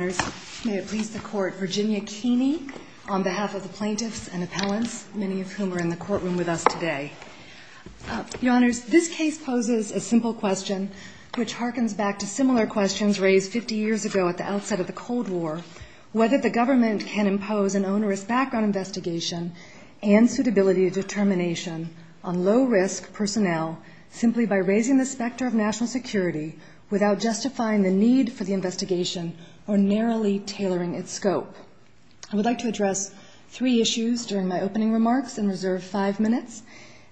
Virginia Keeney on behalf of the plaintiffs and appellants, many of whom are in the courtroom with us today. Your Honors, this case poses a simple question, which harkens back to similar questions raised 50 years ago at the outset of the Cold War, whether the government can impose an onerous background investigation and suitability of determination on low-risk personnel simply by raising the specter of national security without justifying the need for the investigation or narrowly tailoring its scope. I would like to address three issues during my opening remarks and reserve five minutes.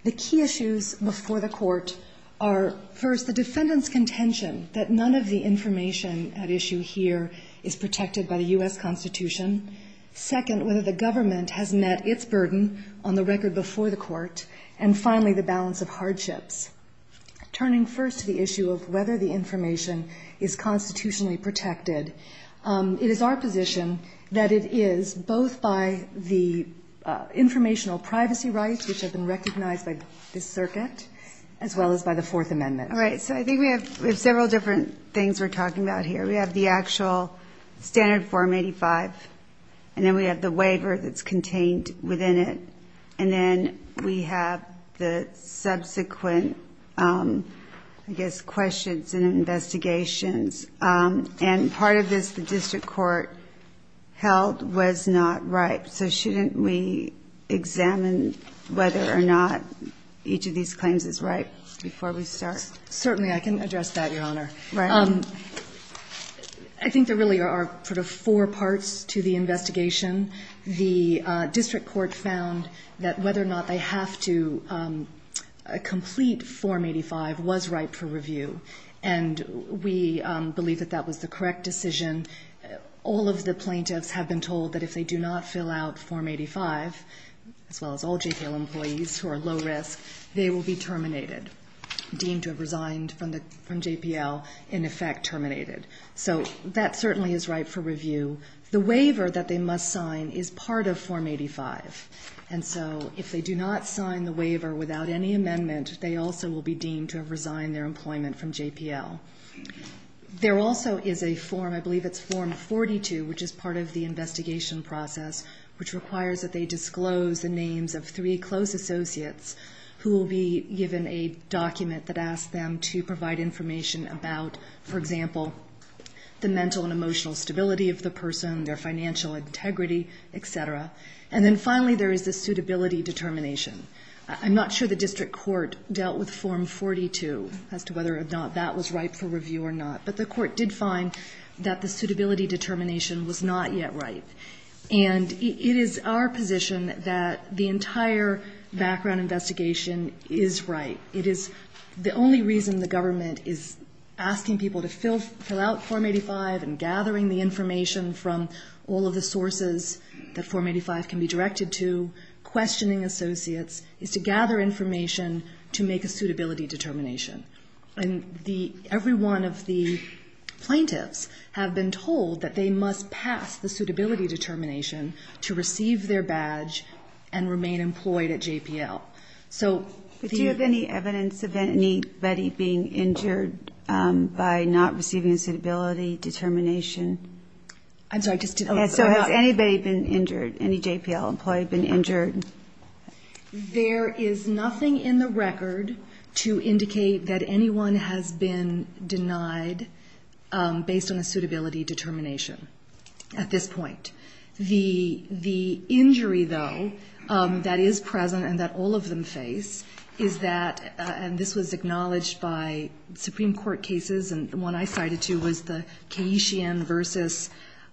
The key issues before the court are, first, the defendant's contention that none of the information at issue here is protected by the U.S. Constitution. Second, whether the government has met its burden on the record before the court. And finally, the balance of hardships. Turning first to the issue of whether the information is constitutionally protected, it is our position that it is, both by the informational privacy rights, which have been recognized by this circuit, as well as by the Fourth Amendment. All right, so I think we have several different things we're talking about here. We have the actual standard Form 85, and then we have the waiver that's contained within it, and then we have the statute of limitations, and then we have the subsequent, I guess, questions and investigations. And part of this the district court held was not right. So shouldn't we examine whether or not each of these claims is right before we start? Certainly, I can address that, Your Honor. I think there really are sort of four parts to the investigation. One is that the decision to complete Form 85 was right for review, and we believe that that was the correct decision. All of the plaintiffs have been told that if they do not fill out Form 85, as well as all JPL employees who are low-risk, they will be terminated, deemed to have resigned from JPL, in effect terminated. And two, the waiver that they must sign is part of Form 85. And so if they do not sign the waiver without any amendment, they also will be deemed to have resigned their employment from JPL. There also is a form, I believe it's Form 42, which is part of the investigation process, which requires that they disclose the names of three close associates who will be given a document that asks them to provide information about, for example, the mental and emotional stability of the person, their financial integrity, et cetera. And then finally there is the suitability determination. I'm not sure the district court dealt with Form 42 as to whether or not that was right for review or not, but the court did find that the suitability determination was not yet right. And it is our position that the entire background investigation is right. It is the only reason the government is asking people to fill out Form 85 and gathering the information from all of the sources that Form 85 can be directed to, questioning associates, is to gather information to make a suitability determination. And every one of the plaintiffs have been told that they must pass the suitability determination to receive their badge and remain employed at JPL. But do you have any evidence of anybody being injured by not receiving a suitability determination? I'm sorry, I just didn't... So has anybody been injured, any JPL employee been injured? There is nothing in the record to indicate that anyone has been denied based on a suitability determination at this point. The injury, though, that is present and that all of them face is that, and this was acknowledged by Supreme Court cases, and the one I cited too, was the Cayetian versus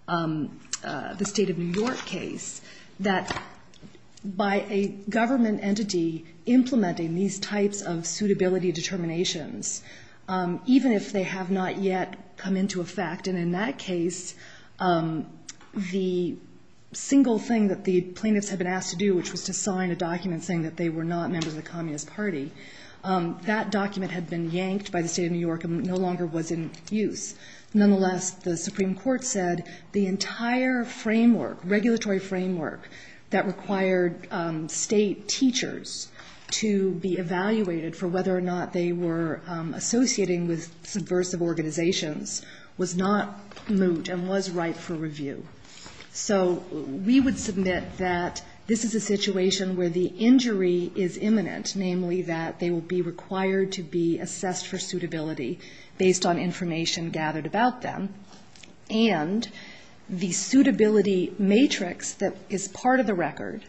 the State of New York case, that by a government entity implementing these types of suitability determinations, even if they have not yet come into effect, and in that case, the single thing that the plaintiffs had been asked to do, which was to sign a document saying that they were not members of the Communist Party, that document had been yanked by the State of New York and no longer was in use. Nonetheless, the Supreme Court said the entire framework, regulatory framework, that required state teachers to be evaluated for whether or not they were associating with subversive organizations was not moot and was ripe for review. So we would submit that this is a situation where the injury is imminent, namely that they will be required to be assessed for suitability based on information gathered about them, and the suitability matrix that is part of the record,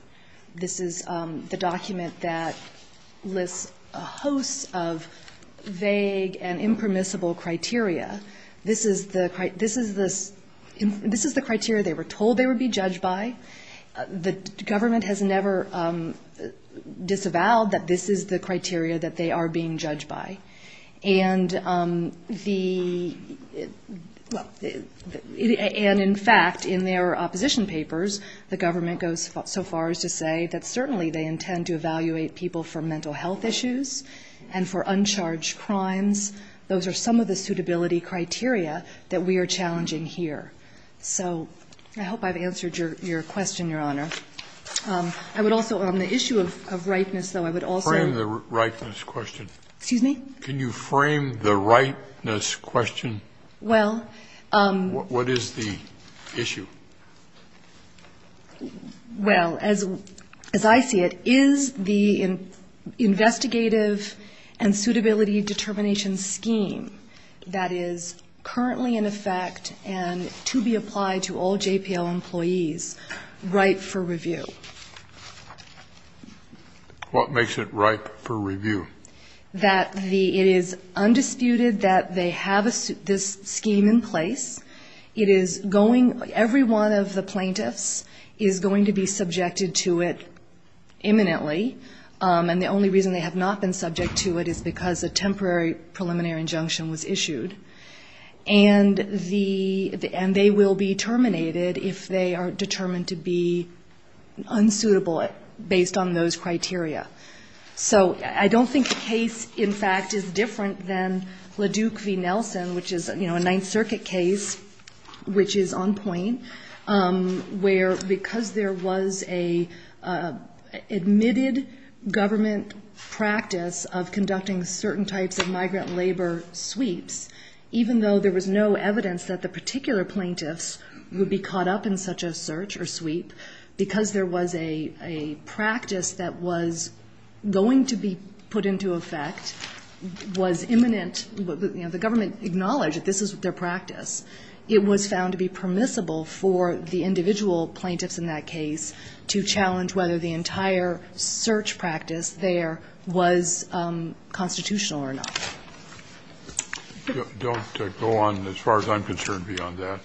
this is the document that lists a host of vague and impermissible criteria, this is the criteria they were told they would be judged by, the government has never disavowed that this is the criteria that they are being judged by. And in fact, in their opposition papers, the government goes so far as to say that certainly they intend to evaluate people for mental health issues and for uncharged crimes. Those are some of the suitability criteria that we are challenging here. So I hope I've answered your question, Your Honor. I would also, on the issue of ripeness, though, I would also. Scalia. Can you frame the ripeness question? Well. What is the issue? Well, as I see it, is the investigative and suitability determination scheme that is currently in effect and to be applied to all JPL employees ripe for review. What makes it ripe for review? That it is undisputed that they have this scheme in place. It is going, every one of the plaintiffs is going to be subjected to it imminently, and the only reason they have not been subject to it is because a temporary preliminary injunction was issued, and the, and they will be terminated if they are determined to be unsuitable based on those criteria. So I don't think the case, in fact, is different than Leduc v. Nelson, which is, you know, a Ninth Circuit case which is on point, where because there was a admitted government practice of conducting certain types of migrant labor sweeps, even though there was no evidence that the particular plaintiffs would be caught up in such a search or sweep, because there was a practice that was going to be put into effect, was imminent, you know, the government acknowledged that this was their practice. It was found to be permissible for the individual plaintiffs in that case to challenge whether the entire search practice there was constitutional or not. Don't go on as far as I'm concerned beyond that.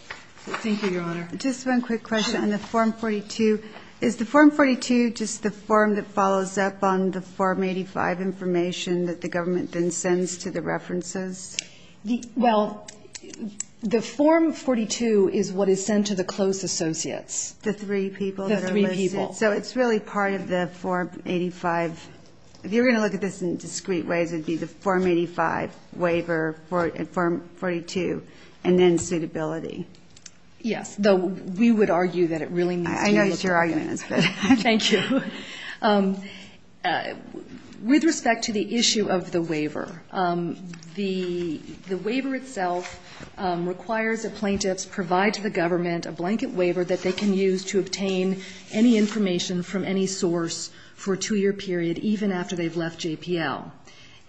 Thank you, Your Honor. Just one quick question on the Form 42. Is the Form 42 just the form that follows up on the Form 85 information that the government then sends to the references? Well, the Form 42 is what is sent to the close associates, the three people that are listed. The three people. So it's really part of the Form 85. If you're going to look at this in discrete ways, it would be the Form 85 waiver, and Form 42, and then suitability. Yes. Though we would argue that it really needs to be a document. I know what your argument is. Thank you. government a blanket waiver that they can use to obtain any information from any source for a two-year period, even after they've left JPL.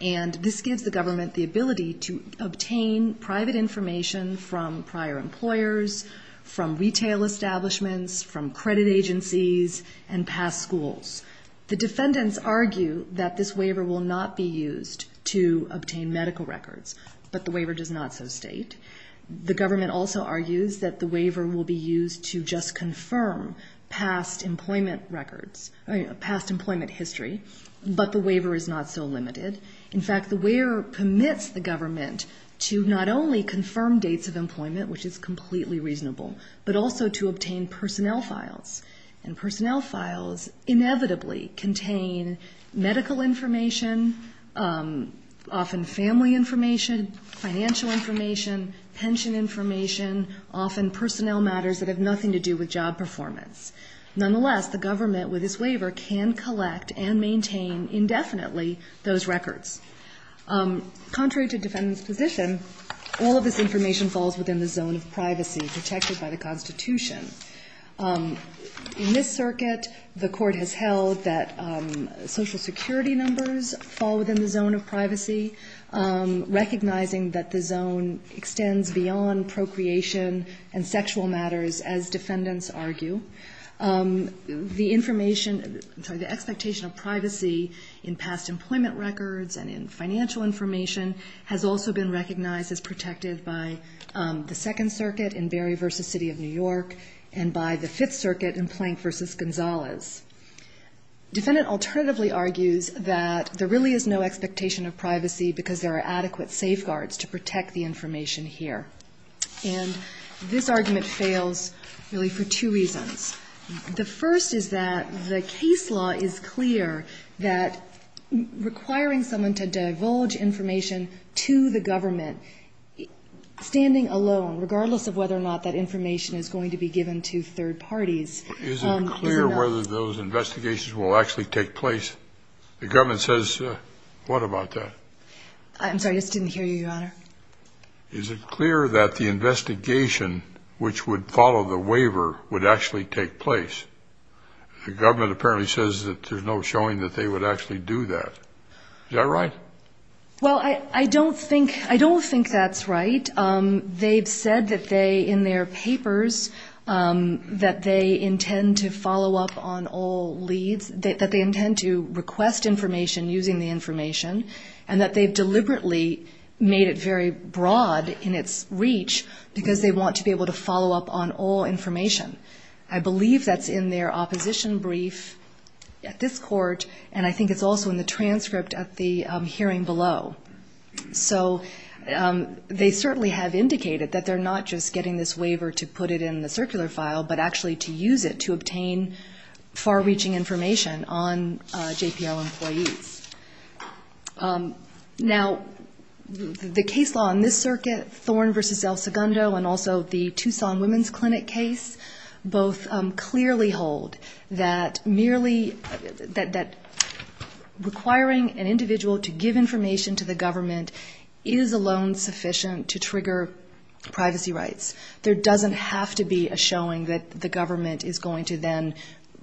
And this gives the government the ability to obtain private information from prior employers, from retail establishments, from credit agencies, and past schools. The defendants argue that this waiver will not be used to obtain medical records, but the waiver does not so state. The government also argues that the waiver will be used to just confirm past employment records, past employment history, but the waiver is not so limited. In fact, the waiver permits the government to not only confirm dates of employment, which is completely reasonable, but also to obtain personnel files. And personnel files inevitably contain medical information, often family information, financial information, pension information, often personnel matters that have nothing to do with job performance. Nonetheless, the government, with this waiver, can collect and maintain indefinitely those records. Contrary to defendants' position, all of this information falls within the zone of privacy protected by the Constitution. In this circuit, the court has held that Social Security numbers fall within the zone of privacy, recognizing that the zone extends beyond procreation and sexual matters, as defendants argue. The expectation of privacy in past employment records and in financial information has also been recognized as protected by the Second Circuit in Berry v. City of New York and by the Fifth Circuit in Plank v. Gonzalez. Defendant alternatively argues that there really is no expectation of privacy because there are adequate safeguards to protect the information here. And this argument fails really for two reasons. The first is that the case law is clear that requiring someone to divulge information to the government, standing alone, regardless of whether or not that information Is it clear whether those investigations will actually take place? The government says what about that? I'm sorry, I just didn't hear you, Your Honor. Is it clear that the investigation, which would follow the waiver, would actually take place? The government apparently says that there's no showing that they would actually do that. Is that right? Well, I don't think that's right. They've said that they, in their papers, that they intend to follow up on all leads, that they intend to request information using the information, and that they've deliberately made it very broad in its reach because they want to be able to follow up on all information. I believe that's in their opposition brief at this court, and I think it's also in the transcript at the hearing below. So they certainly have indicated that they're not just getting this waiver to put it in the circular file, but actually to use it to obtain far-reaching information on JPL employees. Now, the case law in this circuit, Thorne v. El Segundo, and also the Tucson Women's Clinic case, both clearly hold that merely requiring an individual to give information to the government is alone sufficient to trigger privacy rights. There doesn't have to be a showing that the government is going to then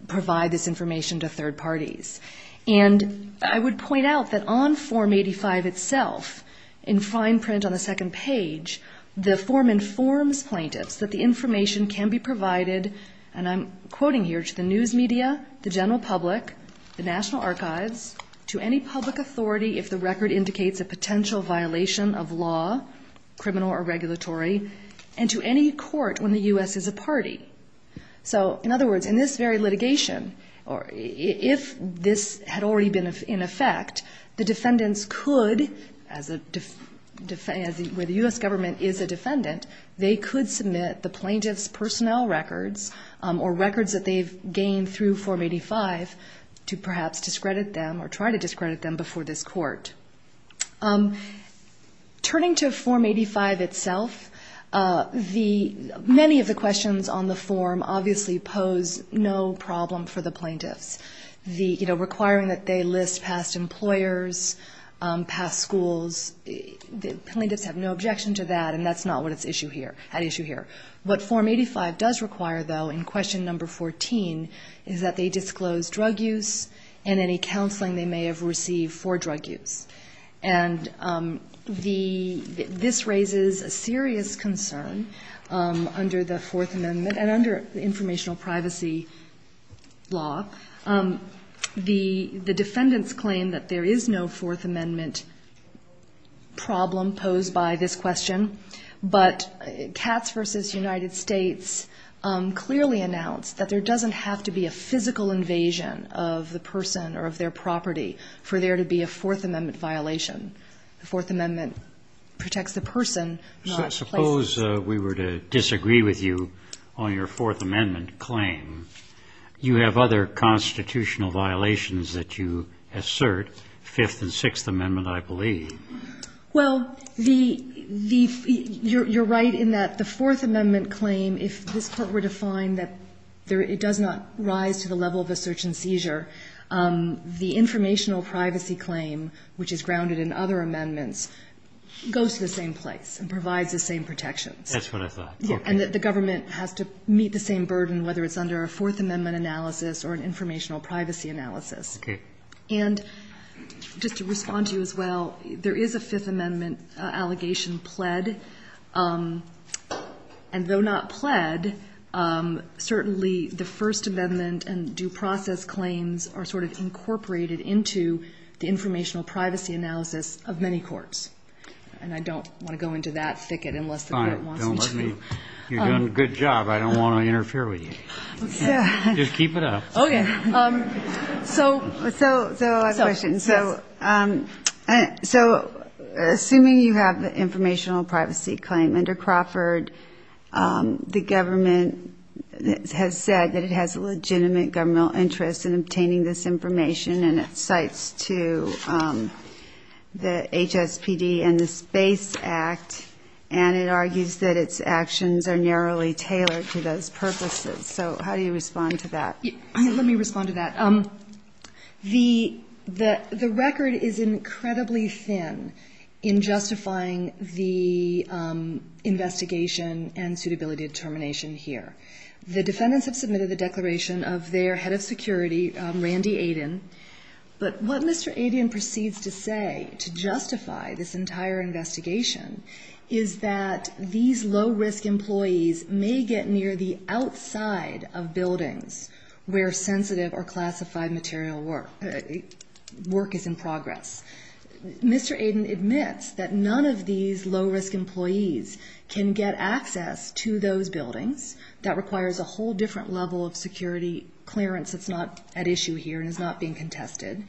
provide this information to third parties. And I would point out that on Form 85 itself, in fine print on the second page, the form informs plaintiffs that the information can be provided, and I'm quoting here, to the news media, the general public, the National Archives, to any public authority if the record indicates a potential violation of law, criminal or regulatory, and to any court when the U.S. is a party. So in other words, in this very litigation, if this had already been in effect, the defendants could, where the U.S. government is a defendant, they could submit the plaintiff's personnel records or records that they've gained through Form 85 to perhaps discredit them or try to discredit them before this court. Turning to Form 85 itself, many of the questions on the form obviously pose no problem for the plaintiffs. Requiring that they list past employers, past schools, plaintiffs have no objection to that, and that's not what's at issue here. What Form 85 does require, though, in Question No. 14 is that they disclose drug use and any counseling they may have received for drug use. And the ‑‑ this raises a serious concern under the Fourth Amendment and under the informational privacy law. The defendants claim that there is no Fourth Amendment problem posed by this question, but Katz v. United States clearly announced that there doesn't have to be a physical invasion of the person or of their property for there to be a Fourth Amendment violation. The Fourth Amendment protects the person, not the place. Suppose we were to disagree with you on your Fourth Amendment claim. You have other constitutional violations that you assert, Fifth and Sixth Amendment, I believe. Well, the ‑‑ you're right in that the Fourth Amendment claim, if this court were to find that it does not rise to the level of a search and seizure, the informational privacy claim, which is grounded in other amendments, goes to the same place and provides the same protections. That's what I thought. And that the government has to meet the same burden, whether it's under a Fourth Amendment analysis or an informational privacy analysis. Okay. And just to respond to you as well, there is a Fifth Amendment allegation pled, and though not pled, certainly the First Amendment and due process claims are sort of incorporated into the informational privacy analysis of many courts. And I don't want to go into that thicket unless the court wants me to. All right. Don't hurt me. You're doing a good job. I don't want to interfere with you. Just keep it up. Okay. So a last question. So assuming you have the informational privacy claim under Crawford, the government has said that it has a legitimate governmental interest in obtaining this information, and it cites to the HSPD and the Space Act, and it argues that its actions are narrowly tailored to those purposes. So how do you respond to that? Let me respond to that. The record is incredibly thin in justifying the investigation and suitability determination here. The defendants have submitted the declaration of their head of security, Randy Aiden, but what Mr. Aiden proceeds to say to justify this entire investigation is that these low-risk employees may get near the outside of buildings where sensitive or classified material work is in progress. Mr. Aiden admits that none of these low-risk employees can get access to those buildings. That requires a whole different level of security clearance that's not at issue here and is not being contested.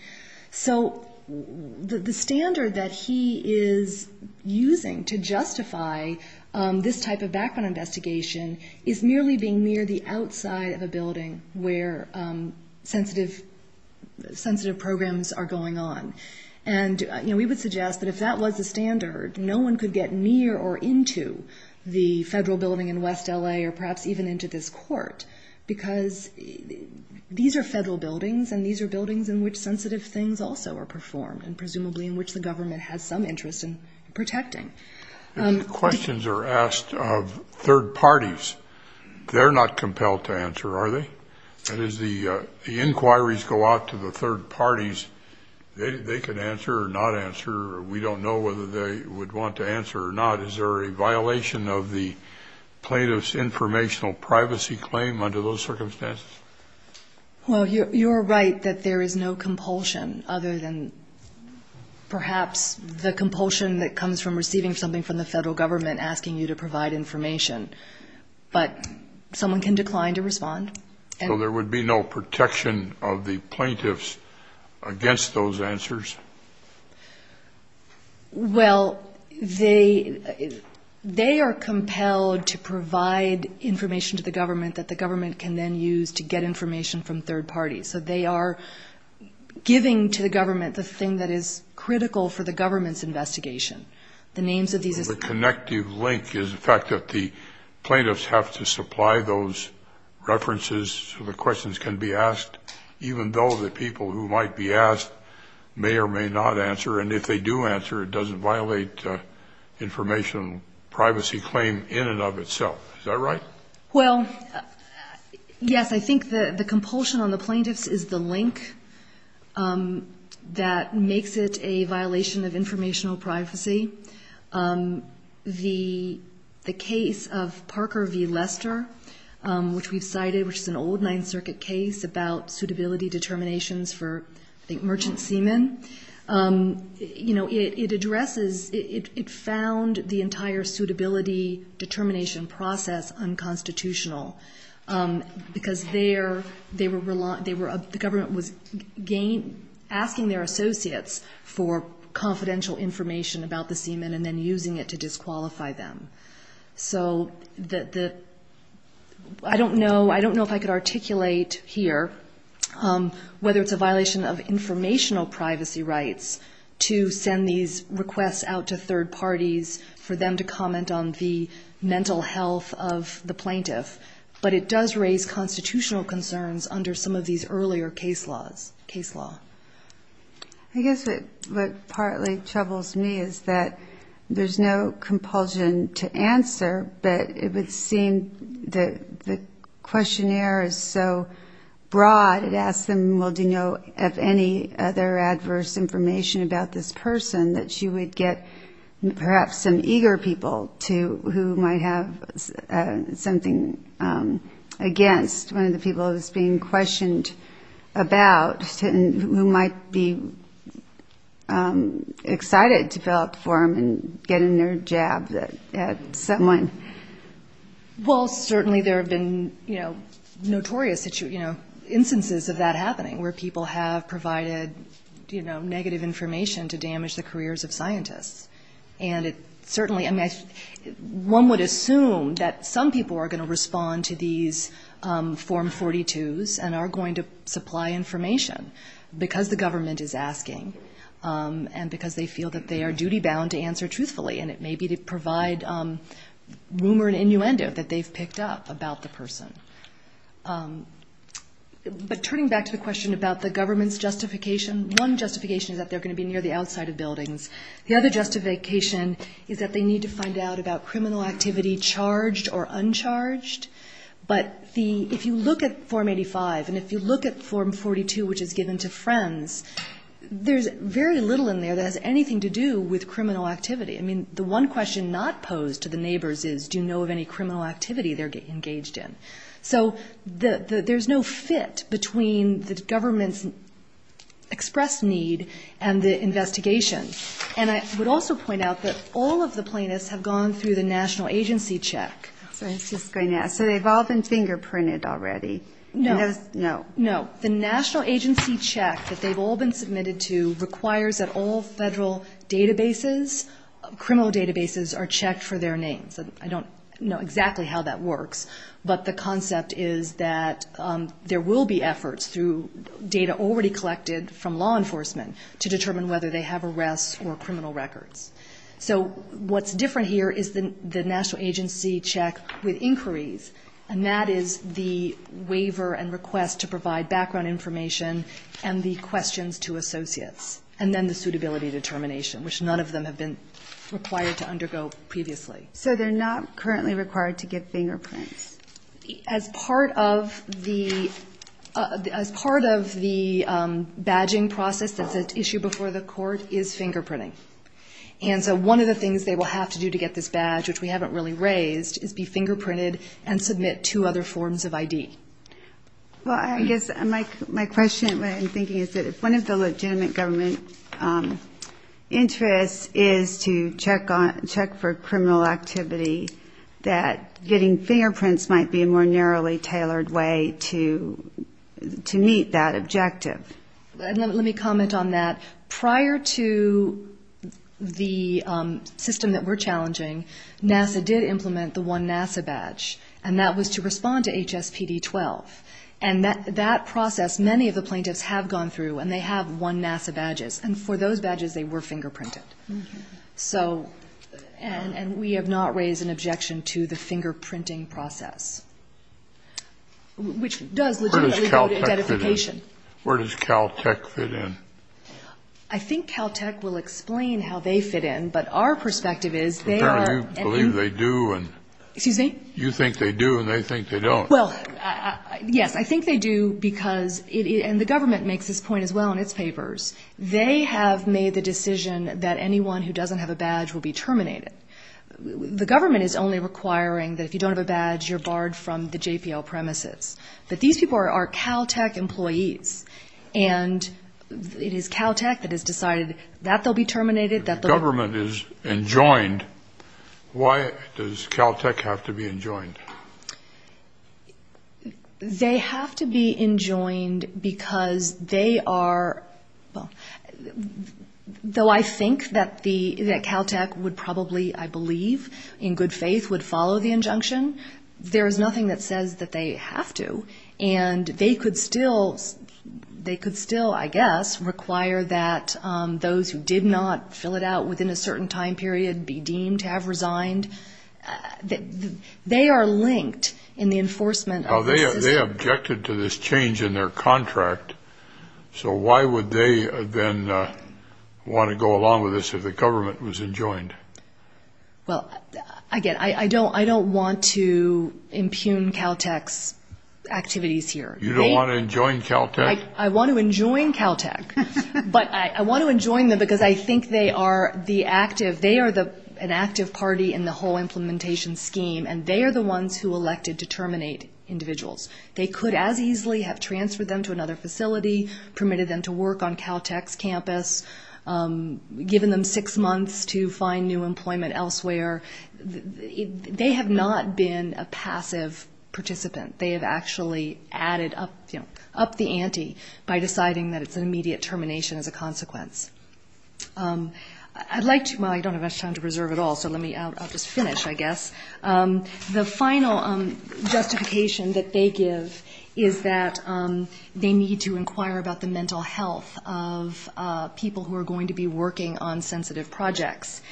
So the standard that he is using to justify this type of background investigation is merely being near the outside of a building where sensitive programs are going on. And we would suggest that if that was the standard, no one could get near or into the federal building in West L.A. or perhaps even into this court because these are federal buildings and these are buildings in which sensitive things also are performed If questions are asked of third parties, they're not compelled to answer, are they? And as the inquiries go out to the third parties, they can answer or not answer. We don't know whether they would want to answer or not. Is there a violation of the plaintiff's informational privacy claim under those circumstances? Well, you're right that there is no compulsion other than perhaps the compulsion that comes from receiving something from the federal government asking you to provide information. But someone can decline to respond. So there would be no protection of the plaintiffs against those answers? Well, they are compelled to provide information to the government that the government can then use to get information from third parties. So they are giving to the government the thing that is critical for the government's investigation. The names of these issues. The connective link is the fact that the plaintiffs have to supply those references so the questions can be asked even though the people who might be asked may or may not answer. And if they do answer, it doesn't violate the informational privacy claim in and of itself. Is that right? Well, yes. I think the compulsion on the plaintiffs is the link that makes it a violation of informational privacy. The case of Parker v. Lester, which we've cited, which is an old Ninth Circuit case about suitability determinations for, I think, merchant seamen, you know, it addresses, it found the entire suitability determination process unconstitutional because the government was asking their associates for confidential information about the seamen and then using it to disqualify them. So I don't know if I could articulate here whether it's a violation of informational privacy rights to send these requests out to third parties for them to comment on the mental health of the plaintiff. But it does raise constitutional concerns under some of these earlier case laws, case law. I guess what partly troubles me is that there's no compulsion to answer, but it would seem that the questionnaire is so broad, it asks them, well, do you know of any other adverse information about this person that you would get perhaps some eager people who might have something against, one of the people who's being questioned about, who might be excited to fill out the form and get in their jab at someone. Well, certainly there have been, you know, notorious instances of that happening where people have provided, you know, negative information to damage the careers of scientists. And it certainly, I mean, one would assume that some people are going to respond to these form 42s and are going to supply information because the government is asking and because they feel that they are duty-bound to answer truthfully. And it may be to provide rumor and innuendo that they've picked up about the person. But turning back to the question about the government's justification, one justification is that they're going to be near the outside of buildings. The other justification is that they need to find out about criminal activity charged or uncharged. But if you look at Form 85 and if you look at Form 42, which is given to friends, there's very little in there that has anything to do with criminal activity. I mean, the one question not posed to the neighbors is, do you know of any criminal activity they're engaged in? So there's no fit between the government's expressed need and the investigation. And I would also point out that all of the plaintiffs have gone through the national agency check. So they've all been fingerprinted already. No. No. The national agency check that they've all been submitted to requires that all federal databases, criminal databases, are checked for their names. I don't know exactly how that works, but the concept is that there will be efforts through data already collected from law enforcement to determine whether they have arrests or criminal records. So what's different here is the national agency check with inquiries, and that is the waiver and request to provide background information and the questions to associates, and then the suitability determination, which none of them have been required to undergo previously. So they're not currently required to get fingerprints. As part of the badging process that's at issue before the court is fingerprinting. And so one of the things they will have to do to get this badge, which we haven't really raised, is be fingerprinted and submit two other forms of ID. Well, I guess my question, what I'm thinking, is that if one of the legitimate government interests is to check for criminal activity, that getting fingerprints might be a more narrowly tailored way to meet that objective. Let me comment on that. Prior to the system that we're challenging, NASA did implement the OneNASA badge, and that was to respond to HSPD-12. And that process, many of the plaintiffs have gone through, and they have OneNASA badges. And for those badges, they were fingerprinted. And we have not raised an objection to the fingerprinting process, which does legitimate identification. Where does Caltech fit in? I think Caltech will explain how they fit in, but our perspective is they are... Apparently you believe they do. Excuse me? You think they do, and they think they don't. Well, yes, I think they do because, and the government makes this point as well in its papers, they have made the decision that anyone who doesn't have a badge will be terminated. The government is only requiring that if you don't have a badge, you're barred from the JPL premises. But these people are Caltech employees, and it is Caltech that has decided that they'll be terminated. The government is enjoined. Why does Caltech have to be enjoined? They have to be enjoined because they are... Though I think that Caltech would probably, I believe, in good faith, would follow the injunction, there is nothing that says that they have to, and they could still, I guess, require that those who did not fill it out within a certain time period be deemed to have resigned. They are linked in the enforcement of the system. Now, they objected to this change in their contract, so why would they then want to go along with this if the government was enjoined? Well, again, I don't want to impugn Caltech's activities here. You don't want to enjoin Caltech? I want to enjoin Caltech, but I want to enjoin them because I think they are the active... They are an active party in the whole implementation scheme, and they are the ones who elected to terminate individuals. They could as easily have transferred them to another facility, permitted them to work on Caltech's campus, given them six months to find new employment elsewhere. They have not been a passive participant. They have actually added up the ante by deciding that it's an immediate termination as a consequence. I'd like to... Well, I don't have much time to preserve it all, so I'll just finish, I guess. The final justification that they give is that they need to inquire about the mental health of people who are going to be working on sensitive projects.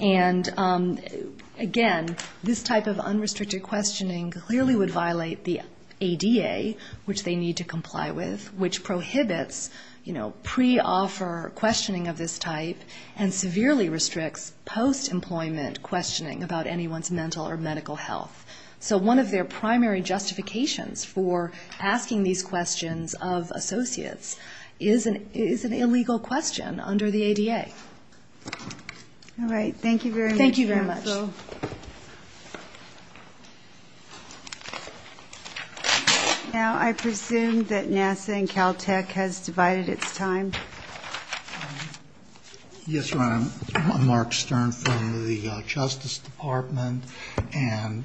And, again, this type of unrestricted questioning clearly would violate the ADA, which they need to comply with, which prohibits, you know, pre-offer questioning of this type and severely restricts post-employment questioning about anyone's mental or medical health. So one of their primary justifications for asking these questions of associates is an illegal question under the ADA. All right. Thank you very much. Thank you very much. Thank you. Now I presume that NASA and Caltech has divided its time. Yes, Your Honor, I'm Mark Stern from the Justice Department, and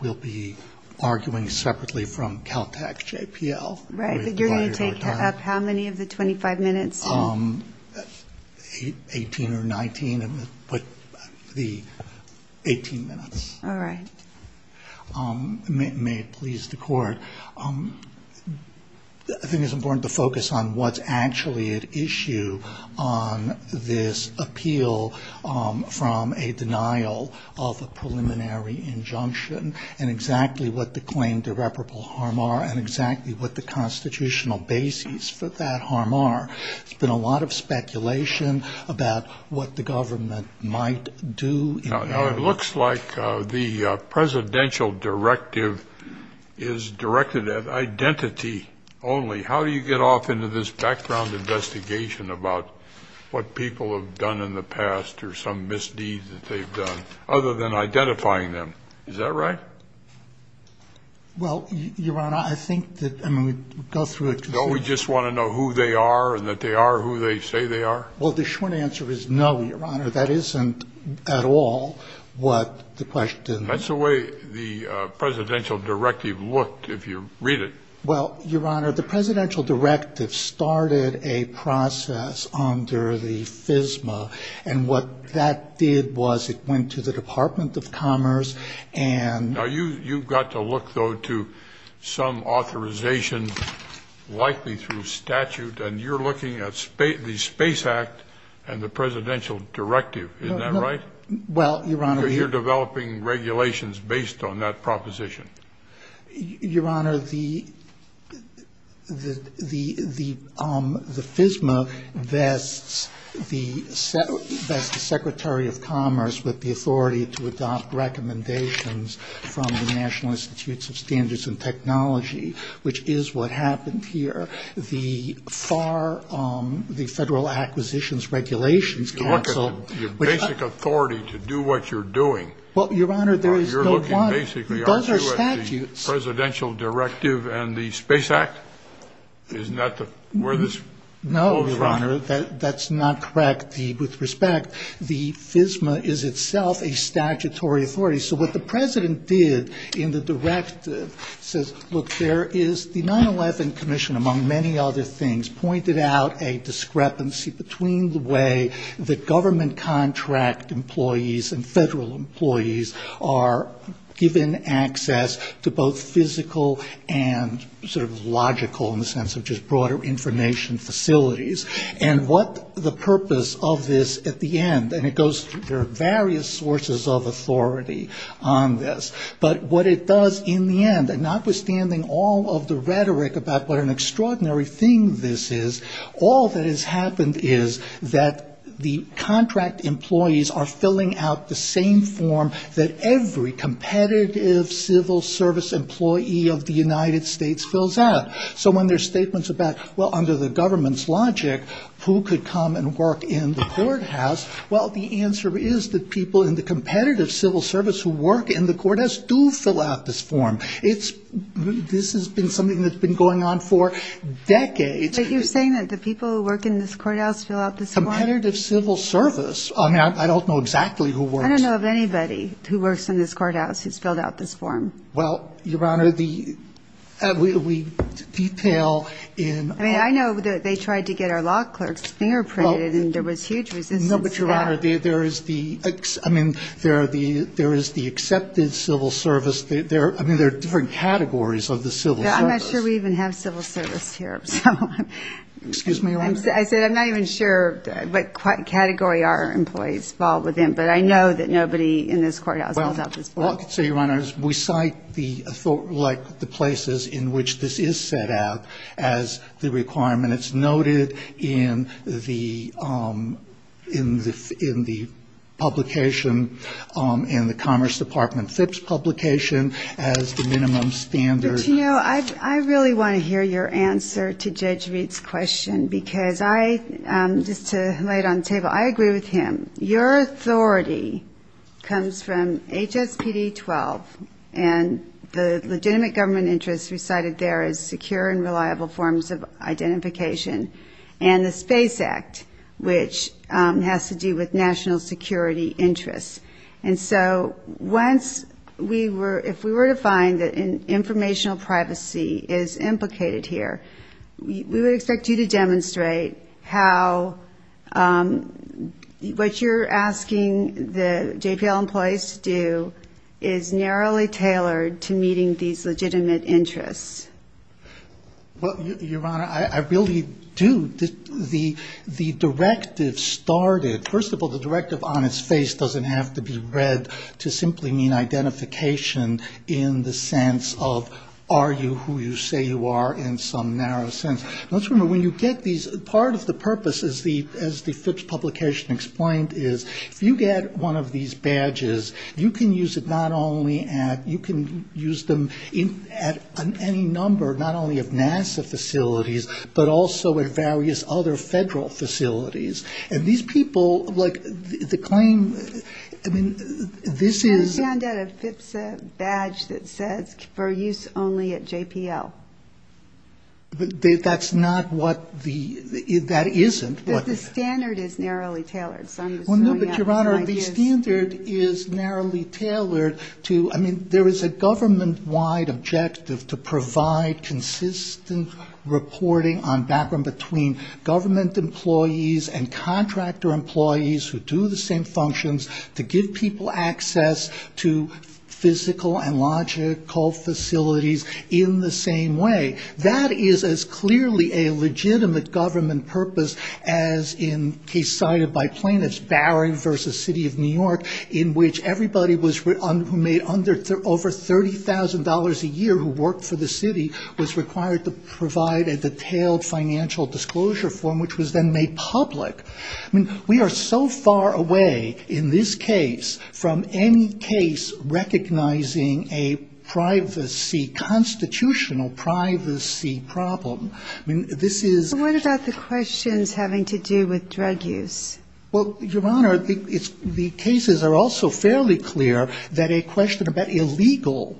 we'll be arguing separately from Caltech JPL. Right, but you're going to take up how many of the 25 minutes? Eighteen or nineteen, but the 18 minutes. All right. May it please the Court. I think it's important to focus on what's actually at issue on this appeal from a denial of a preliminary injunction and exactly what the claimed irreparable harm are and exactly what the constitutional basis for that harm are. There's been a lot of speculation about what the government might do. Now, it looks like the presidential directive is directed at identity only. How do you get off into this background investigation about what people have done in the past or some misdeeds that they've done, other than identifying them? Is that right? Well, Your Honor, I think that we'd go through it. Don't we just want to know who they are and that they are who they say they are? Well, the short answer is no, Your Honor. That isn't at all what the question is. That's the way the presidential directive looked, if you read it. Well, Your Honor, the presidential directive started a process under the FSMA, and what that did was it went to the Department of Commerce and— Now, you've got to look, though, to some authorization, likely through statute, and you're looking at the Space Act and the presidential directive. Isn't that right? Well, Your Honor— You're developing regulations based on that proposition. Your Honor, the FSMA vests the Secretary of Commerce with the authority to adopt recommendations from the National Institutes of Standards and Technology, which is what happened here. The Federal Acquisitions Regulations Council— You look at your basic authority to do what you're doing. Well, Your Honor, there is no one— You look at the presidential directive and the Space Act. Isn't that where this— No, Your Honor, that's not correct. With respect, the FSMA is itself a statutory authority, so what the president did in the directive says, the 9-11 Commission, among many other things, pointed out a discrepancy between the way that government contract employees and federal employees are given access to both physical and sort of logical, in the sense of just broader information facilities, and what the purpose of this at the end. And it goes through various sources of authority on this. But what it does in the end, and notwithstanding all of the rhetoric about what an extraordinary thing this is, all that has happened is that the contract employees are filling out the same form that every competitive civil service employee of the United States fills out. So when there's statements about, well, under the government's logic, who could come and work in the courthouse? Well, the answer is that people in the competitive civil service who work in the courthouse do fill out this form. It's—this has been something that's been going on for decades. But you're saying that the people who work in this courthouse fill out this form? Competitive civil service? I mean, I don't know exactly who works— I don't know of anybody who works in this courthouse who's filled out this form. Well, Your Honor, the—we detail in— But, Your Honor, there is the—I mean, there are the—there is the accepted civil service. There are—I mean, there are different categories of the civil service. I'm not sure we even have civil service here. So— Excuse me, Your Honor. I said I'm not even sure what category our employees fall within. But I know that nobody in this courthouse fills out this form. Well, Your Honor, we cite the—like the places in which this is set out as the requirement. It's noted in the—in the publication in the Commerce Department FIPS publication as the minimum standard. But, you know, I really want to hear your answer to Judge Reed's question because I—just to lay it on the table, I agree with him. Your authority comes from HSPD 12, and the legitimate government interest recited there is secure and reliable forms of identification, and the SPACE Act, which has to do with national security interests. And so once we were—if we were to find that an informational privacy is implicated here, we would expect you to demonstrate how what you're asking the JPL employees to do is narrowly tailored to meeting these legitimate interests. Well, Your Honor, I really do. The directive started—first of all, the directive on its face doesn't have to be read to simply mean identification in the sense of, are you who you say you are in some narrow sense. Let's remember, when you get these—part of the purpose, as the FIPS publication explained, is if you get one of these badges, you can use it not only at—you can use them at any number, not only of NASA facilities, but also at various other federal facilities. And these people, like the claim—I mean, this is— But that's not what the—that isn't what— But the standard is narrowly tailored. Well, no, but, Your Honor, the standard is narrowly tailored to—I mean, there is a government-wide objective to provide consistent reporting on background between government employees and contractor employees who do the same functions, to give people access to physical and logical facilities in the same way. That is as clearly a legitimate government purpose as in case cited by plaintiffs, Barring v. City of New York, in which everybody was—who made under—over $30,000 a year who worked for the city was required to provide a detailed financial disclosure form, which was then made public. I mean, we are so far away in this case from any case recognizing a privacy—constitutional privacy problem. I mean, this is— But what about the questions having to do with drug use? Well, Your Honor, the cases are also fairly clear that a question about illegal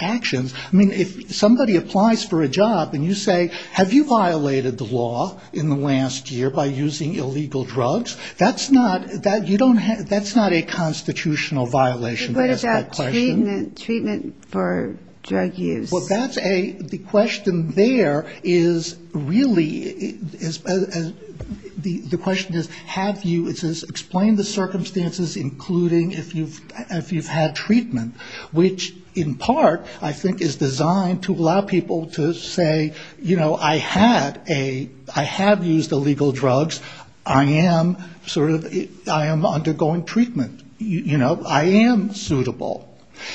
actions— I mean, if somebody applies for a job and you say, Have you violated the law in the last year by using illegal drugs? That's not—you don't have—that's not a constitutional violation to ask that question. But what about treatment for drug use? Well, that's a—the question there is really—the question is, have you—it says explain the circumstances, including if you've had treatment, which in part I think is designed to allow people to say, you know, I had a—I have used illegal drugs. I am sort of—I am undergoing treatment. You know, I am suitable.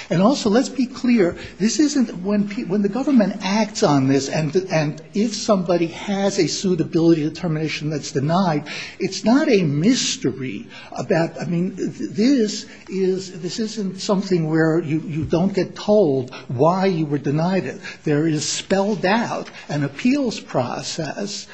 And also let's be clear, this isn't—when the government acts on this and if somebody has a suitability determination that's denied, it's not a mystery about— this isn't something where you don't get told why you were denied it. There is spelled out an appeals process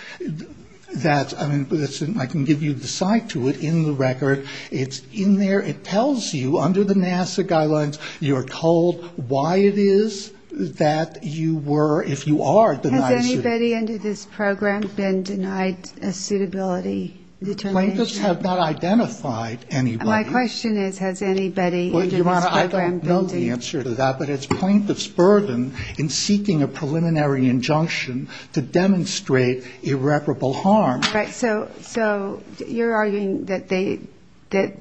that's—I mean, I can give you the site to it in the record. It's in there. It tells you under the NASA guidelines you're told why it is that you were, if you are, denied a suitability. Has anybody under this program been denied a suitability determination? Plaintiffs have not identified anybody. My question is, has anybody under this program been denied— I don't know the answer to that, but it's plaintiff's burden in seeking a preliminary injunction to demonstrate irreparable harm. Right. So you're arguing that they—that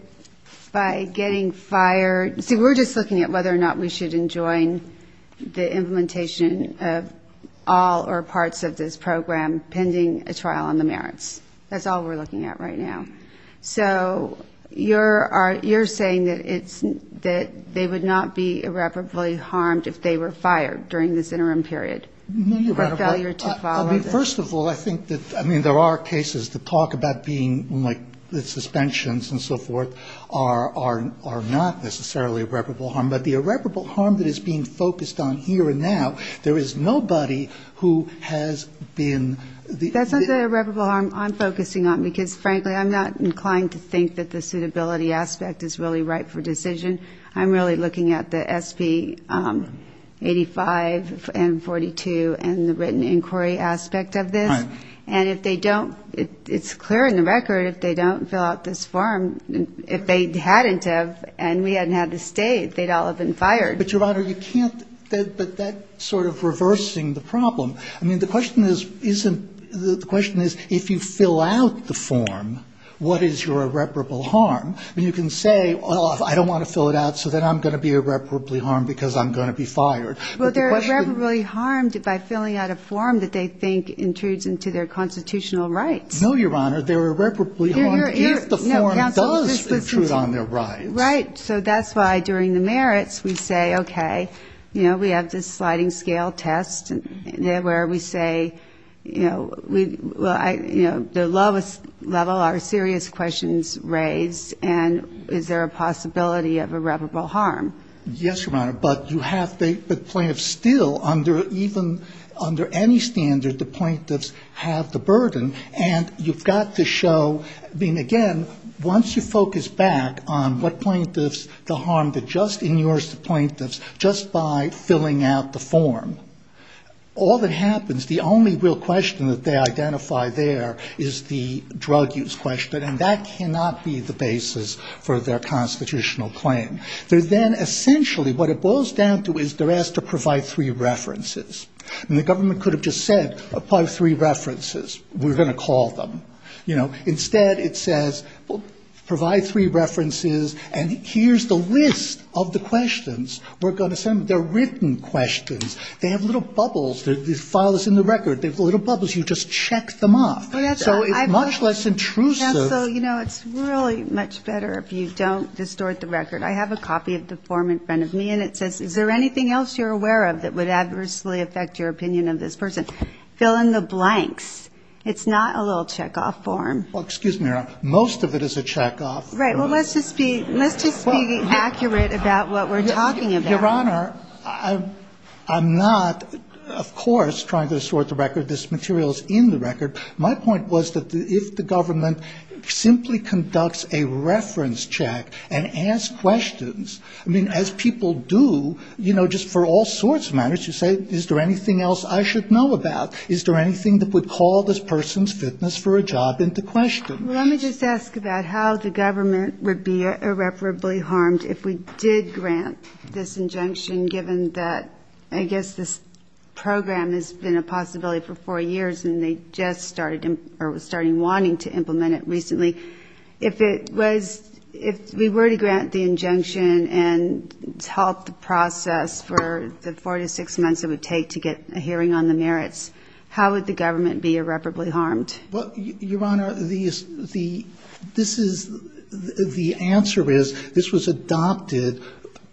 by getting fired— see, we're just looking at whether or not we should enjoin the implementation of all or parts of this program pending a trial on the merits. That's all we're looking at right now. So you're saying that it's—that they would not be irreparably harmed if they were fired during this interim period? Mm-hmm. Or failure to follow the— I mean, first of all, I think that—I mean, there are cases that talk about being, like, the suspensions and so forth are not necessarily irreparable harm, but the irreparable harm that is being focused on here and now, there is nobody who has been— That's not the irreparable harm I'm focusing on because, frankly, I'm not inclined to think that the suitability aspect is really ripe for decision. I'm really looking at the SB 85 and 42 and the written inquiry aspect of this. Right. And if they don't—it's clear in the record if they don't fill out this form, if they hadn't have and we hadn't had to stay, they'd all have been fired. But, Your Honor, you can't—but that's sort of reversing the problem. I mean, the question isn't—the question is, if you fill out the form, what is your irreparable harm? I mean, you can say, well, I don't want to fill it out so that I'm going to be irreparably harmed because I'm going to be fired. But the question— Well, they're irreparably harmed by filling out a form that they think intrudes into their constitutional rights. No, Your Honor. They're irreparably harmed if the form does intrude on their rights. Right. So that's why during the merits we say, okay, you know, we have this sliding scale test where we say, you know, the lowest level are serious questions raised and is there a possibility of irreparable harm? Yes, Your Honor. But you have to—but plaintiffs still, under even—under any standard, the plaintiffs have the burden. And you've got to show—I mean, again, once you focus back on what plaintiffs, the harm that just inures the plaintiffs, just by filling out the form, all that happens, the only real question that they identify there is the drug use question. And that cannot be the basis for their constitutional claim. They're then essentially—what it boils down to is they're asked to provide three references. And the government could have just said, apply three references. We're going to call them. You know, instead it says, provide three references and here's the list of the questions we're going to send. They're written questions. They have little bubbles. The file is in the record. They have little bubbles. You just check them off. So it's much less intrusive. Counsel, you know, it's really much better if you don't distort the record. I have a copy of the form in front of me and it says, is there anything else you're aware of that would adversely affect your opinion of this person? Fill in the blanks. It's not a little checkoff form. Well, excuse me, Your Honor. Most of it is a checkoff. Right. Well, let's just be accurate about what we're talking about. Your Honor, I'm not, of course, trying to distort the record. This material is in the record. My point was that if the government simply conducts a reference check and asks questions, I mean, as people do, you know, just for all sorts of matters, you say, is there anything else I should know about? Is there anything that would call this person's fitness for a job into question? Well, let me just ask about how the government would be irreparably harmed if we did grant this injunction, given that I guess this program has been a possibility for four years and they just started wanting to implement it recently. If we were to grant the injunction and halt the process for the four to six months it would take to get a hearing on the merits, how would the government be irreparably harmed? Well, Your Honor, the answer is this was adopted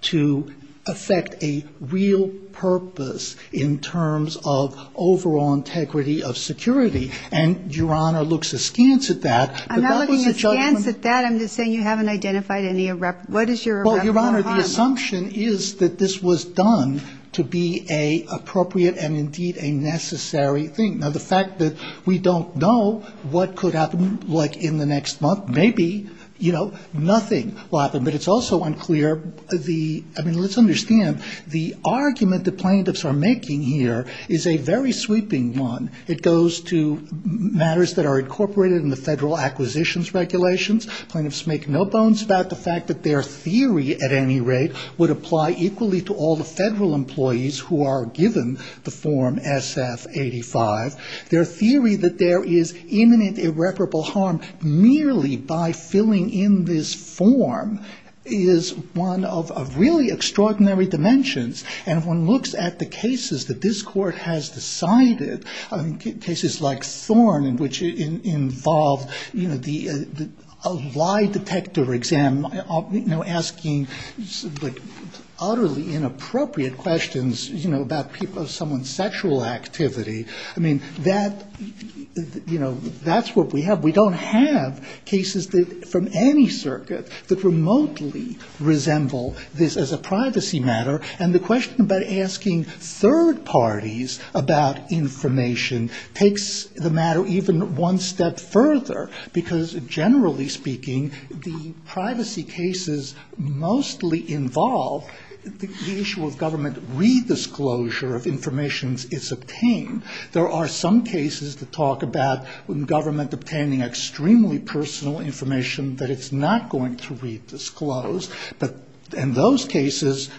to affect a real purpose in terms of overall integrity of security. And Your Honor looks askance at that. I'm not looking askance at that. I'm just saying you haven't identified any irreparable harm. Well, Your Honor, the assumption is that this was done to be an appropriate and indeed a necessary thing. Now, the fact that we don't know what could happen like in the next month, maybe, you know, nothing will happen. But it's also unclear, I mean, let's understand, the argument that plaintiffs are making here is a very sweeping one. It goes to matters that are incorporated in the federal acquisitions regulations. Plaintiffs make no bones about the fact that their theory at any rate would apply equally to all the federal employees who are given the form SF85. Their theory that there is imminent irreparable harm merely by filling in this form is one of really extraordinary dimensions. And if one looks at the cases that this Court has decided, I mean, cases like Thorn in which it involved, you know, a lie detector exam, you know, asking like utterly inappropriate questions, you know, about someone's sexual activity. That, you know, that's what we have. We don't have cases from any circuit that remotely resemble this as a privacy matter. And the question about asking third parties about information takes the matter even one step further. Because generally speaking, the privacy cases mostly involve the issue of government redisclosure of information it's obtained. There are some cases that talk about government obtaining extremely personal information that it's not going to redisclose. And those cases,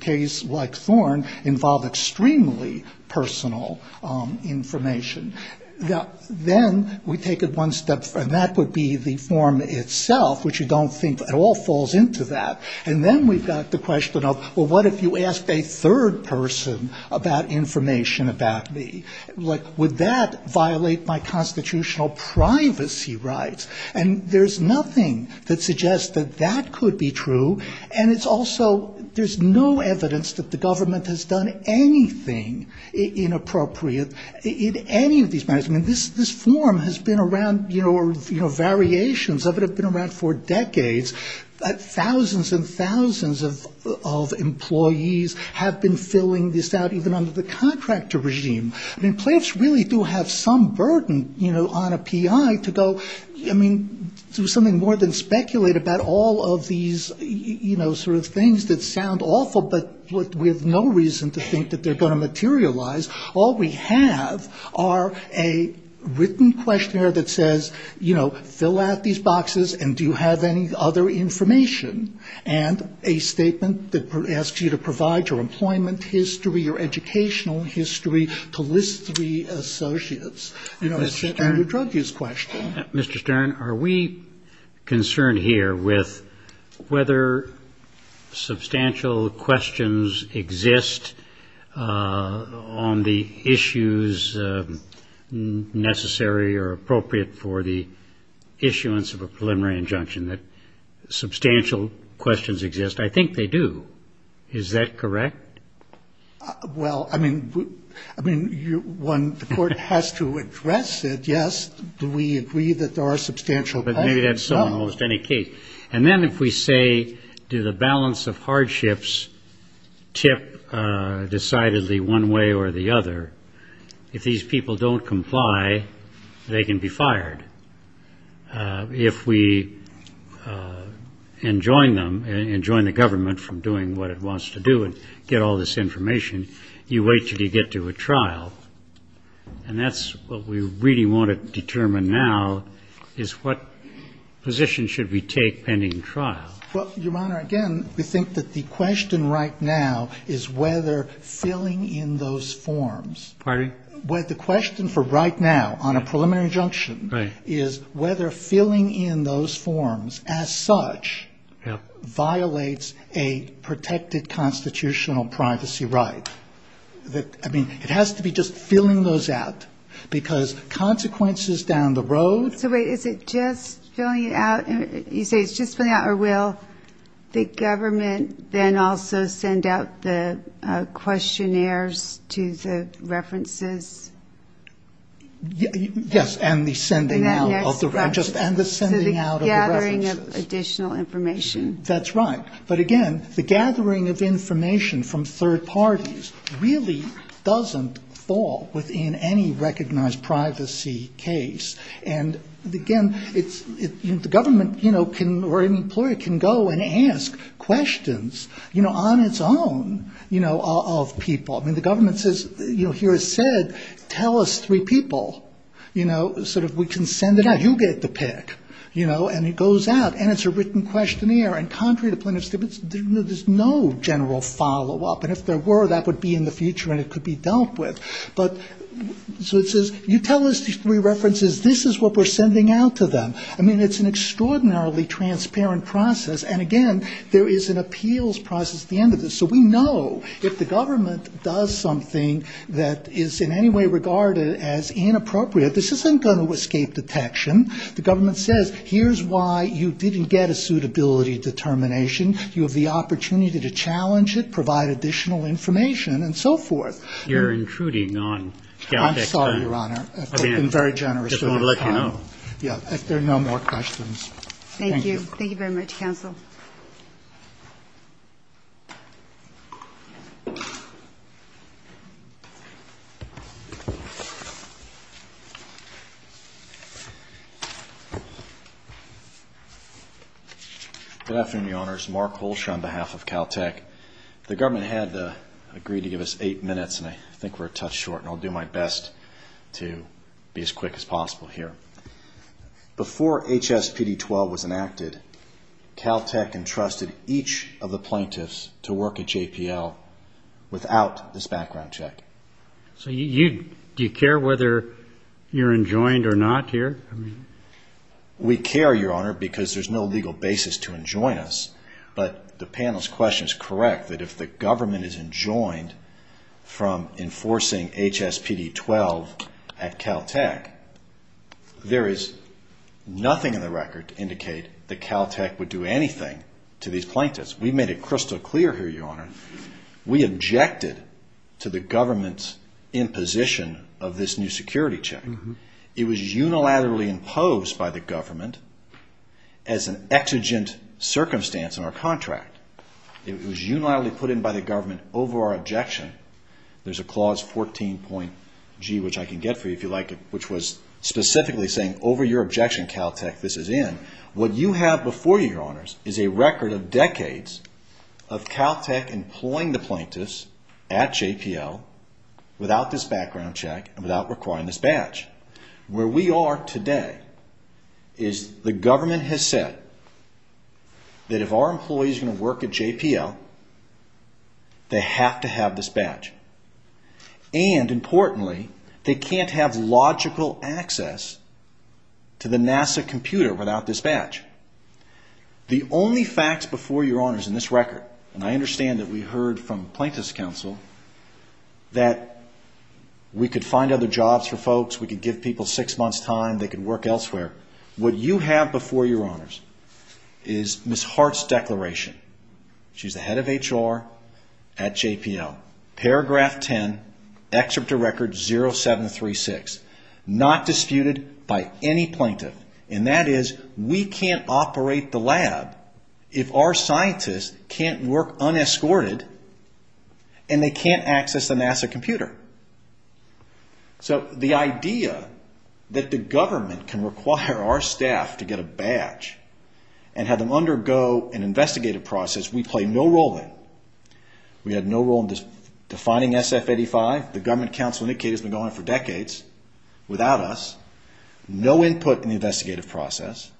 cases like Thorn, involve extremely personal information. Then we take it one step further, and that would be the form itself, which you don't think at all falls into that. And then we've got the question of, well, what if you asked a third person about information about me? Like, would that violate my constitutional privacy rights? And there's nothing that suggests that that could be true. And it's also, there's no evidence that the government has done anything inappropriate in any of these matters. I mean, this form has been around, you know, variations of it have been around for decades. Thousands and thousands of employees have been filling this out, even under the contractor regime. I mean, playoffs really do have some burden, you know, on a PI to go, I mean, do something more than speculate about all of these, you know, sort of things that sound awful, but with no reason to think that they're going to materialize. All we have are a written questionnaire that says, you know, fill out these boxes, and do you have any other information? And a statement that asks you to provide your employment history, your educational history, to list three associates, you know, and a drug use question. Mr. Stern, are we concerned here with whether substantial questions exist on the issues necessary or appropriate for the issuance of a preliminary injunction? That substantial questions exist, I think they do, is that correct? Well, I mean, when the court has to address it, yes, we agree that there are substantial questions. But maybe that's so in almost any case. And then if we say, do the balance of hardships tip decidedly one way or the other, if these people don't comply, they can be fired. If we enjoin them, enjoin the government from doing what it wants to do and get all this information, you wait until you get to a trial. And that's what we really want to determine now is what position should we take pending trial. Well, Your Honor, again, we think that the question right now is whether filling in those forms. Pardon me? Well, the question for right now on a preliminary injunction is whether filling in those forms as such violates a protected constitutional privacy right. I mean, it has to be just filling those out, because consequences down the road. So wait, is it just filling it out? You say it's just filling it out. Or will the government then also send out the questionnaires to the references? Yes, and the sending out of the references. So the gathering of additional information. That's right. But again, the gathering of information from third parties really doesn't fall within any recognized privacy case. It's where it can go and ask questions, you know, on its own, you know, of people. I mean, the government says, you know, here it's said, tell us three people, you know, sort of we can send it out. You get to pick, you know, and it goes out, and it's a written questionnaire. And contrary to plaintiff's stipends, there's no general follow-up. And if there were, that would be in the future and it could be dealt with. I mean, it's an extraordinarily transparent process, and again, there is an appeals process at the end of this. So we know if the government does something that is in any way regarded as inappropriate, this isn't going to escape detection. The government says, here's why you didn't get a suitability determination. You have the opportunity to challenge it, provide additional information, and so forth. You're intruding on... I'm sorry, Your Honor. I've been very generous with my time. There are no more questions. Thank you. Thank you very much, counsel. Mark Holshaw on behalf of Caltech. The government had agreed to give us eight minutes, and I think we're a touch short, and I'll do my best to be as quick as possible here. Before HSPD-12 was enacted, Caltech entrusted each of the plaintiffs to work at JPL without this background check. So do you care whether you're enjoined or not here? We care, Your Honor, because there's no legal basis to enjoin us. But the panel's question is correct, that if the government is enjoined from enforcing HSPD-12 at Caltech, there is nothing in the record to indicate that Caltech would do anything to these plaintiffs. We've made it crystal clear here, Your Honor. We objected to the government's imposition of this new security check. It was unilaterally imposed by the government as an exigent circumstance in our contract. It was unilaterally put in by the government over our objection. There's a Clause 14.G, which I can get for you, if you like, which was specifically saying, over your objection, Caltech, this is in. What you have before you, Your Honors, is a record of decades of Caltech employing the plaintiffs at JPL without this background check and without requiring this badge. Where we are today is the government has said that if our employees are going to work at JPL, they have to have this badge. And, importantly, they can't have logical access to the NASA computer without this badge. The only facts before you, Your Honors, in this record, and I understand that we heard from Plaintiff's Counsel that we could find other jobs for folks, we could give people six months' time, they could work elsewhere. What you have before you, Your Honors, is Ms. Hart's declaration. She's the head of HR at JPL. Paragraph 10, Excerpt of Record 0736. Not disputed by any plaintiff. And that is, we can't operate the lab if our scientists can't work unescorted and they can't access the NASA computer. So the idea that the government can require our staff to get a badge and have them undergo an investigative process we play no role in. We had no role in defining SF-85. The government counsel indicated it's been going on for decades without us. No input in the investigative process.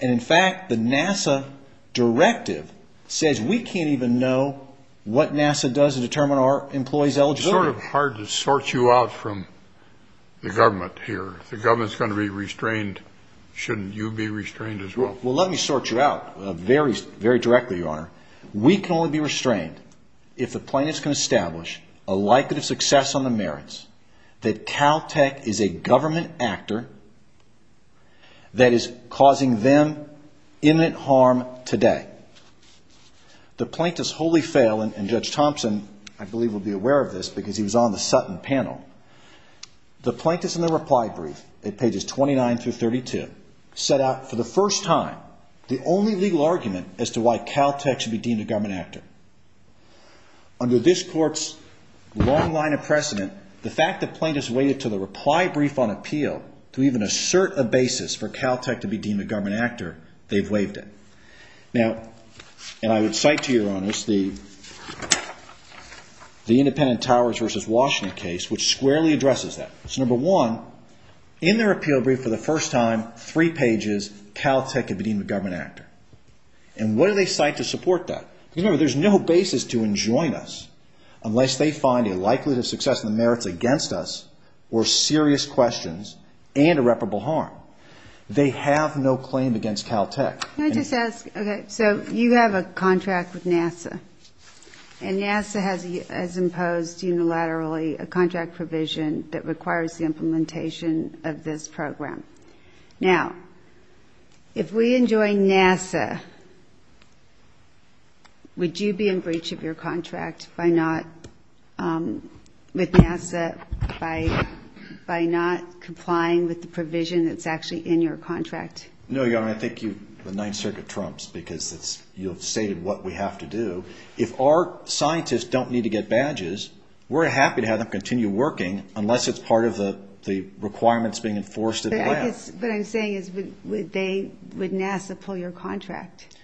And, in fact, the NASA directive says we can't even know what NASA does to determine our employees' eligibility. It's sort of hard to sort you out from the government here. If the government's going to be restrained, shouldn't you be restrained as well? Well, let me sort you out very directly, Your Honor. We can only be restrained if the plaintiffs can establish a likelihood of success on the merits that Caltech is a government actor that is causing them imminent harm today. The plaintiffs wholly fail, and Judge Thompson, I believe, will be aware of this because he was on the Sutton panel. The plaintiffs in their reply brief at pages 29 through 32 set out for the first time the only legal argument as to why Caltech should be deemed a government actor. Under this court's long line of precedent, the fact that plaintiffs waited until the reply brief on appeal to even assert a basis for Caltech to be deemed a government actor, they've waived it. Now, and I would cite to you, Your Honor, the Independent Towers v. Washington case, which squarely addresses that. So, number one, in their appeal brief for the first time, three pages, Caltech can be deemed a government actor. And what do they cite to support that? Remember, there's no basis to enjoin us unless they find a likelihood of success on the merits against us or serious questions and irreparable harm. They have no claim against Caltech. Can I just ask, okay, so you have a contract with NASA, and NASA has imposed unilaterally a contract provision that requires the implementation of this program. Now, if we enjoin NASA, would you be in breach of your contract with NASA by not complying with the provision that's actually in your contract? No, Your Honor, I think the Ninth Circuit trumps, because you've stated what we have to do. If our scientists don't need to get badges, we're happy to have them continue working unless it's part of the requirements being enforced at the lab. But what I'm saying is, would NASA pull your contract?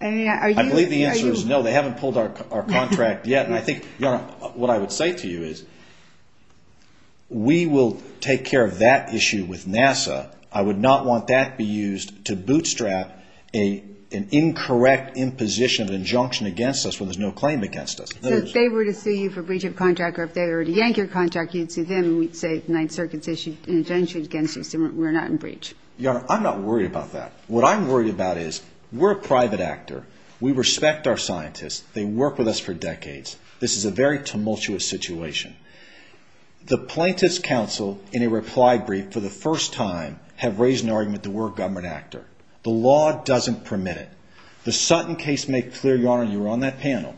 I believe the answer is no, they haven't pulled our contract yet. And I think, Your Honor, what I would say to you is, we will take care of that issue with NASA. I would not want that to be used to bootstrap an incorrect imposition of injunction against us when there's no claim against us. So if they were to sue you for breach of contract, or if they were to yank your contract, you'd sue them, and we'd say the Ninth Circuit's issued an injunction against you, so we're not in breach. Your Honor, I'm not worried about that. What I'm worried about is, we're a private actor. We respect our scientists. They've worked with us for decades. This is a very tumultuous situation. The plaintiffs' counsel, in a reply brief, for the first time, have raised an argument that we're a government actor. The law doesn't permit it. The Sutton case made clear, Your Honor, you were on that panel,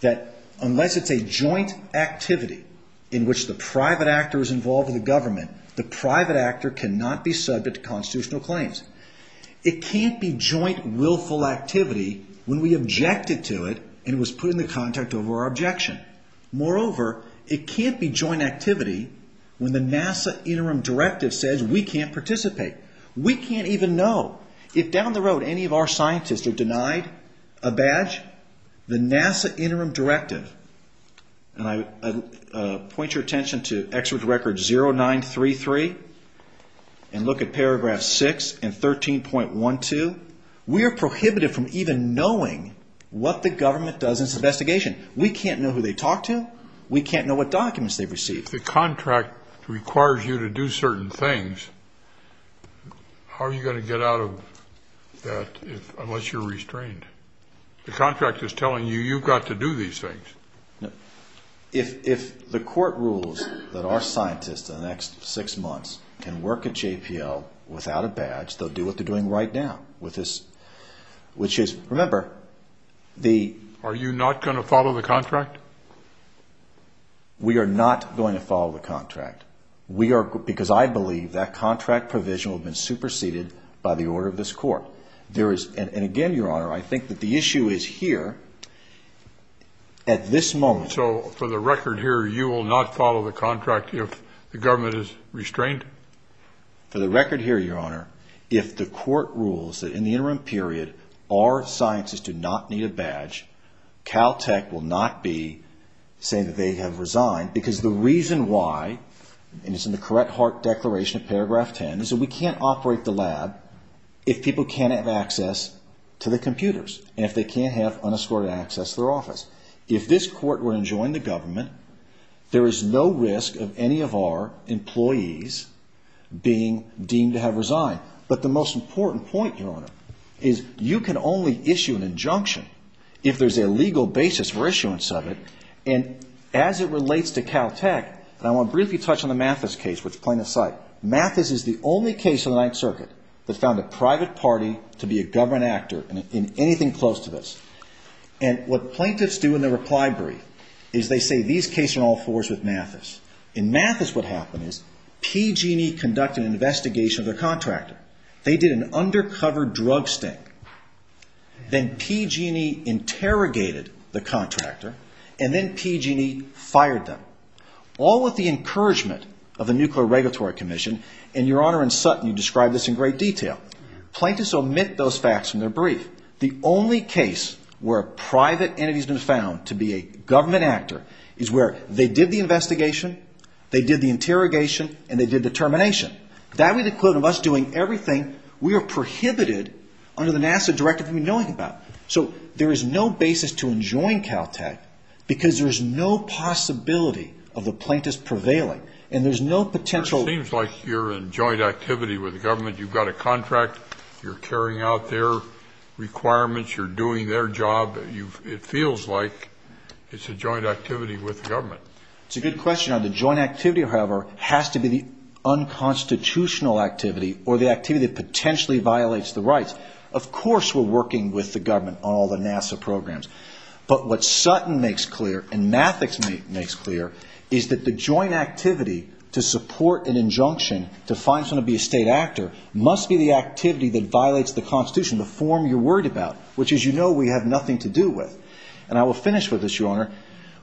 that unless it's a joint activity in which the private actor is involved with the government, the private actor cannot be subject to constitutional claims. It can't be joint, willful activity when we objected to it and it was put in the contract over our objection. Moreover, it can't be joint activity when the NASA interim directive says we can't participate. We can't even know. If down the road any of our scientists are denied a badge, the NASA interim directive, and I point your attention to Executive Record 0933, and look at paragraph 6 and 13.12, we are prohibited from even knowing what the government does in its investigation. We can't know who they talk to. We can't know what documents they've received. If the contract requires you to do certain things, how are you going to get out of that unless you're restrained? The contract is telling you you've got to do these things. If the court rules that our scientists in the next six months can work at JPL without a badge, they'll do what they're doing right now, which is, remember, the... Are you not going to follow the contract? We are not going to follow the contract. Because I believe that contract provision will have been superseded by the order of this court. And again, Your Honor, I think that the issue is here. At this moment... So for the record here, you will not follow the contract if the government is restrained? For the record here, Your Honor, if the court rules that in the interim period our scientists do not need a badge, Caltech will not be saying that they have resigned because the reason why, and it's in the correct heart declaration in paragraph 10, is that we can't operate the lab if people can't have access to the computers and if they can't have unescorted access to their office. If this court were to join the government, there is no risk of any of our employees being deemed to have resigned. But the most important point, Your Honor, is you can only issue an injunction if there's a legal basis for issuance of it. And as it relates to Caltech, and I want to briefly touch on the Mathis case, which plaintiffs cite. Mathis is the only case in the Ninth Circuit that found a private party to be a government actor in anything close to this. And what plaintiffs do in their reply brief is they say, these cases are in all fours with Mathis. In Mathis, what happened is PG&E conducted an investigation of their contractor. They did an undercover drug sting. Then PG&E interrogated the contractor. And then PG&E fired them. All with the encouragement of the Nuclear Regulatory Commission. And, Your Honor, in Sutton, you describe this in great detail. Plaintiffs omit those facts from their brief. The only case where a private entity has been found to be a government actor is where they did the investigation, they did the interrogation, and they did the termination. That would include us doing everything we are prohibited under the NASA directive we know about. So there is no basis to enjoin Caltech because there's no possibility of the plaintiffs prevailing. And there's no potential... It seems like you're in joint activity with the government. You've got a contract. You're carrying out their requirements. You're doing their job. It feels like it's a joint activity with the government. It's a good question. Your question on the joint activity, however, has to be the unconstitutional activity or the activity that potentially violates the rights. Of course we're working with the government on all the NASA programs. But what Sutton makes clear and Mathics makes clear is that the joint activity to support an injunction to find someone to be a state actor must be the activity that violates the Constitution, the form you're worried about, which, as you know, we have nothing to do with. And I will finish with this, Your Honor.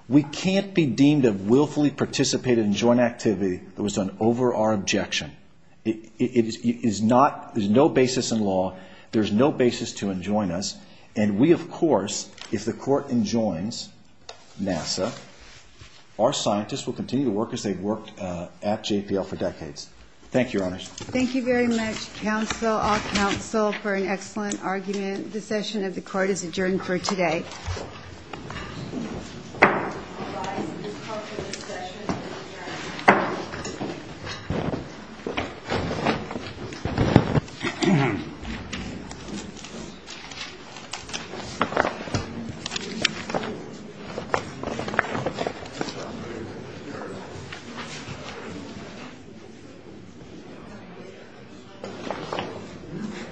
We can't be deemed of willfully participating in joint activity that was done over our objection. There's no basis in law. There's no basis to enjoin us. And we, of course, if the Court enjoins NASA, our scientists will continue to work as they've worked at JPL for decades. Thank you, Your Honor. Thank you very much, counsel, all counsel, for an excellent argument. The session of the Court is adjourned for today. All rise. This call for the session is adjourned.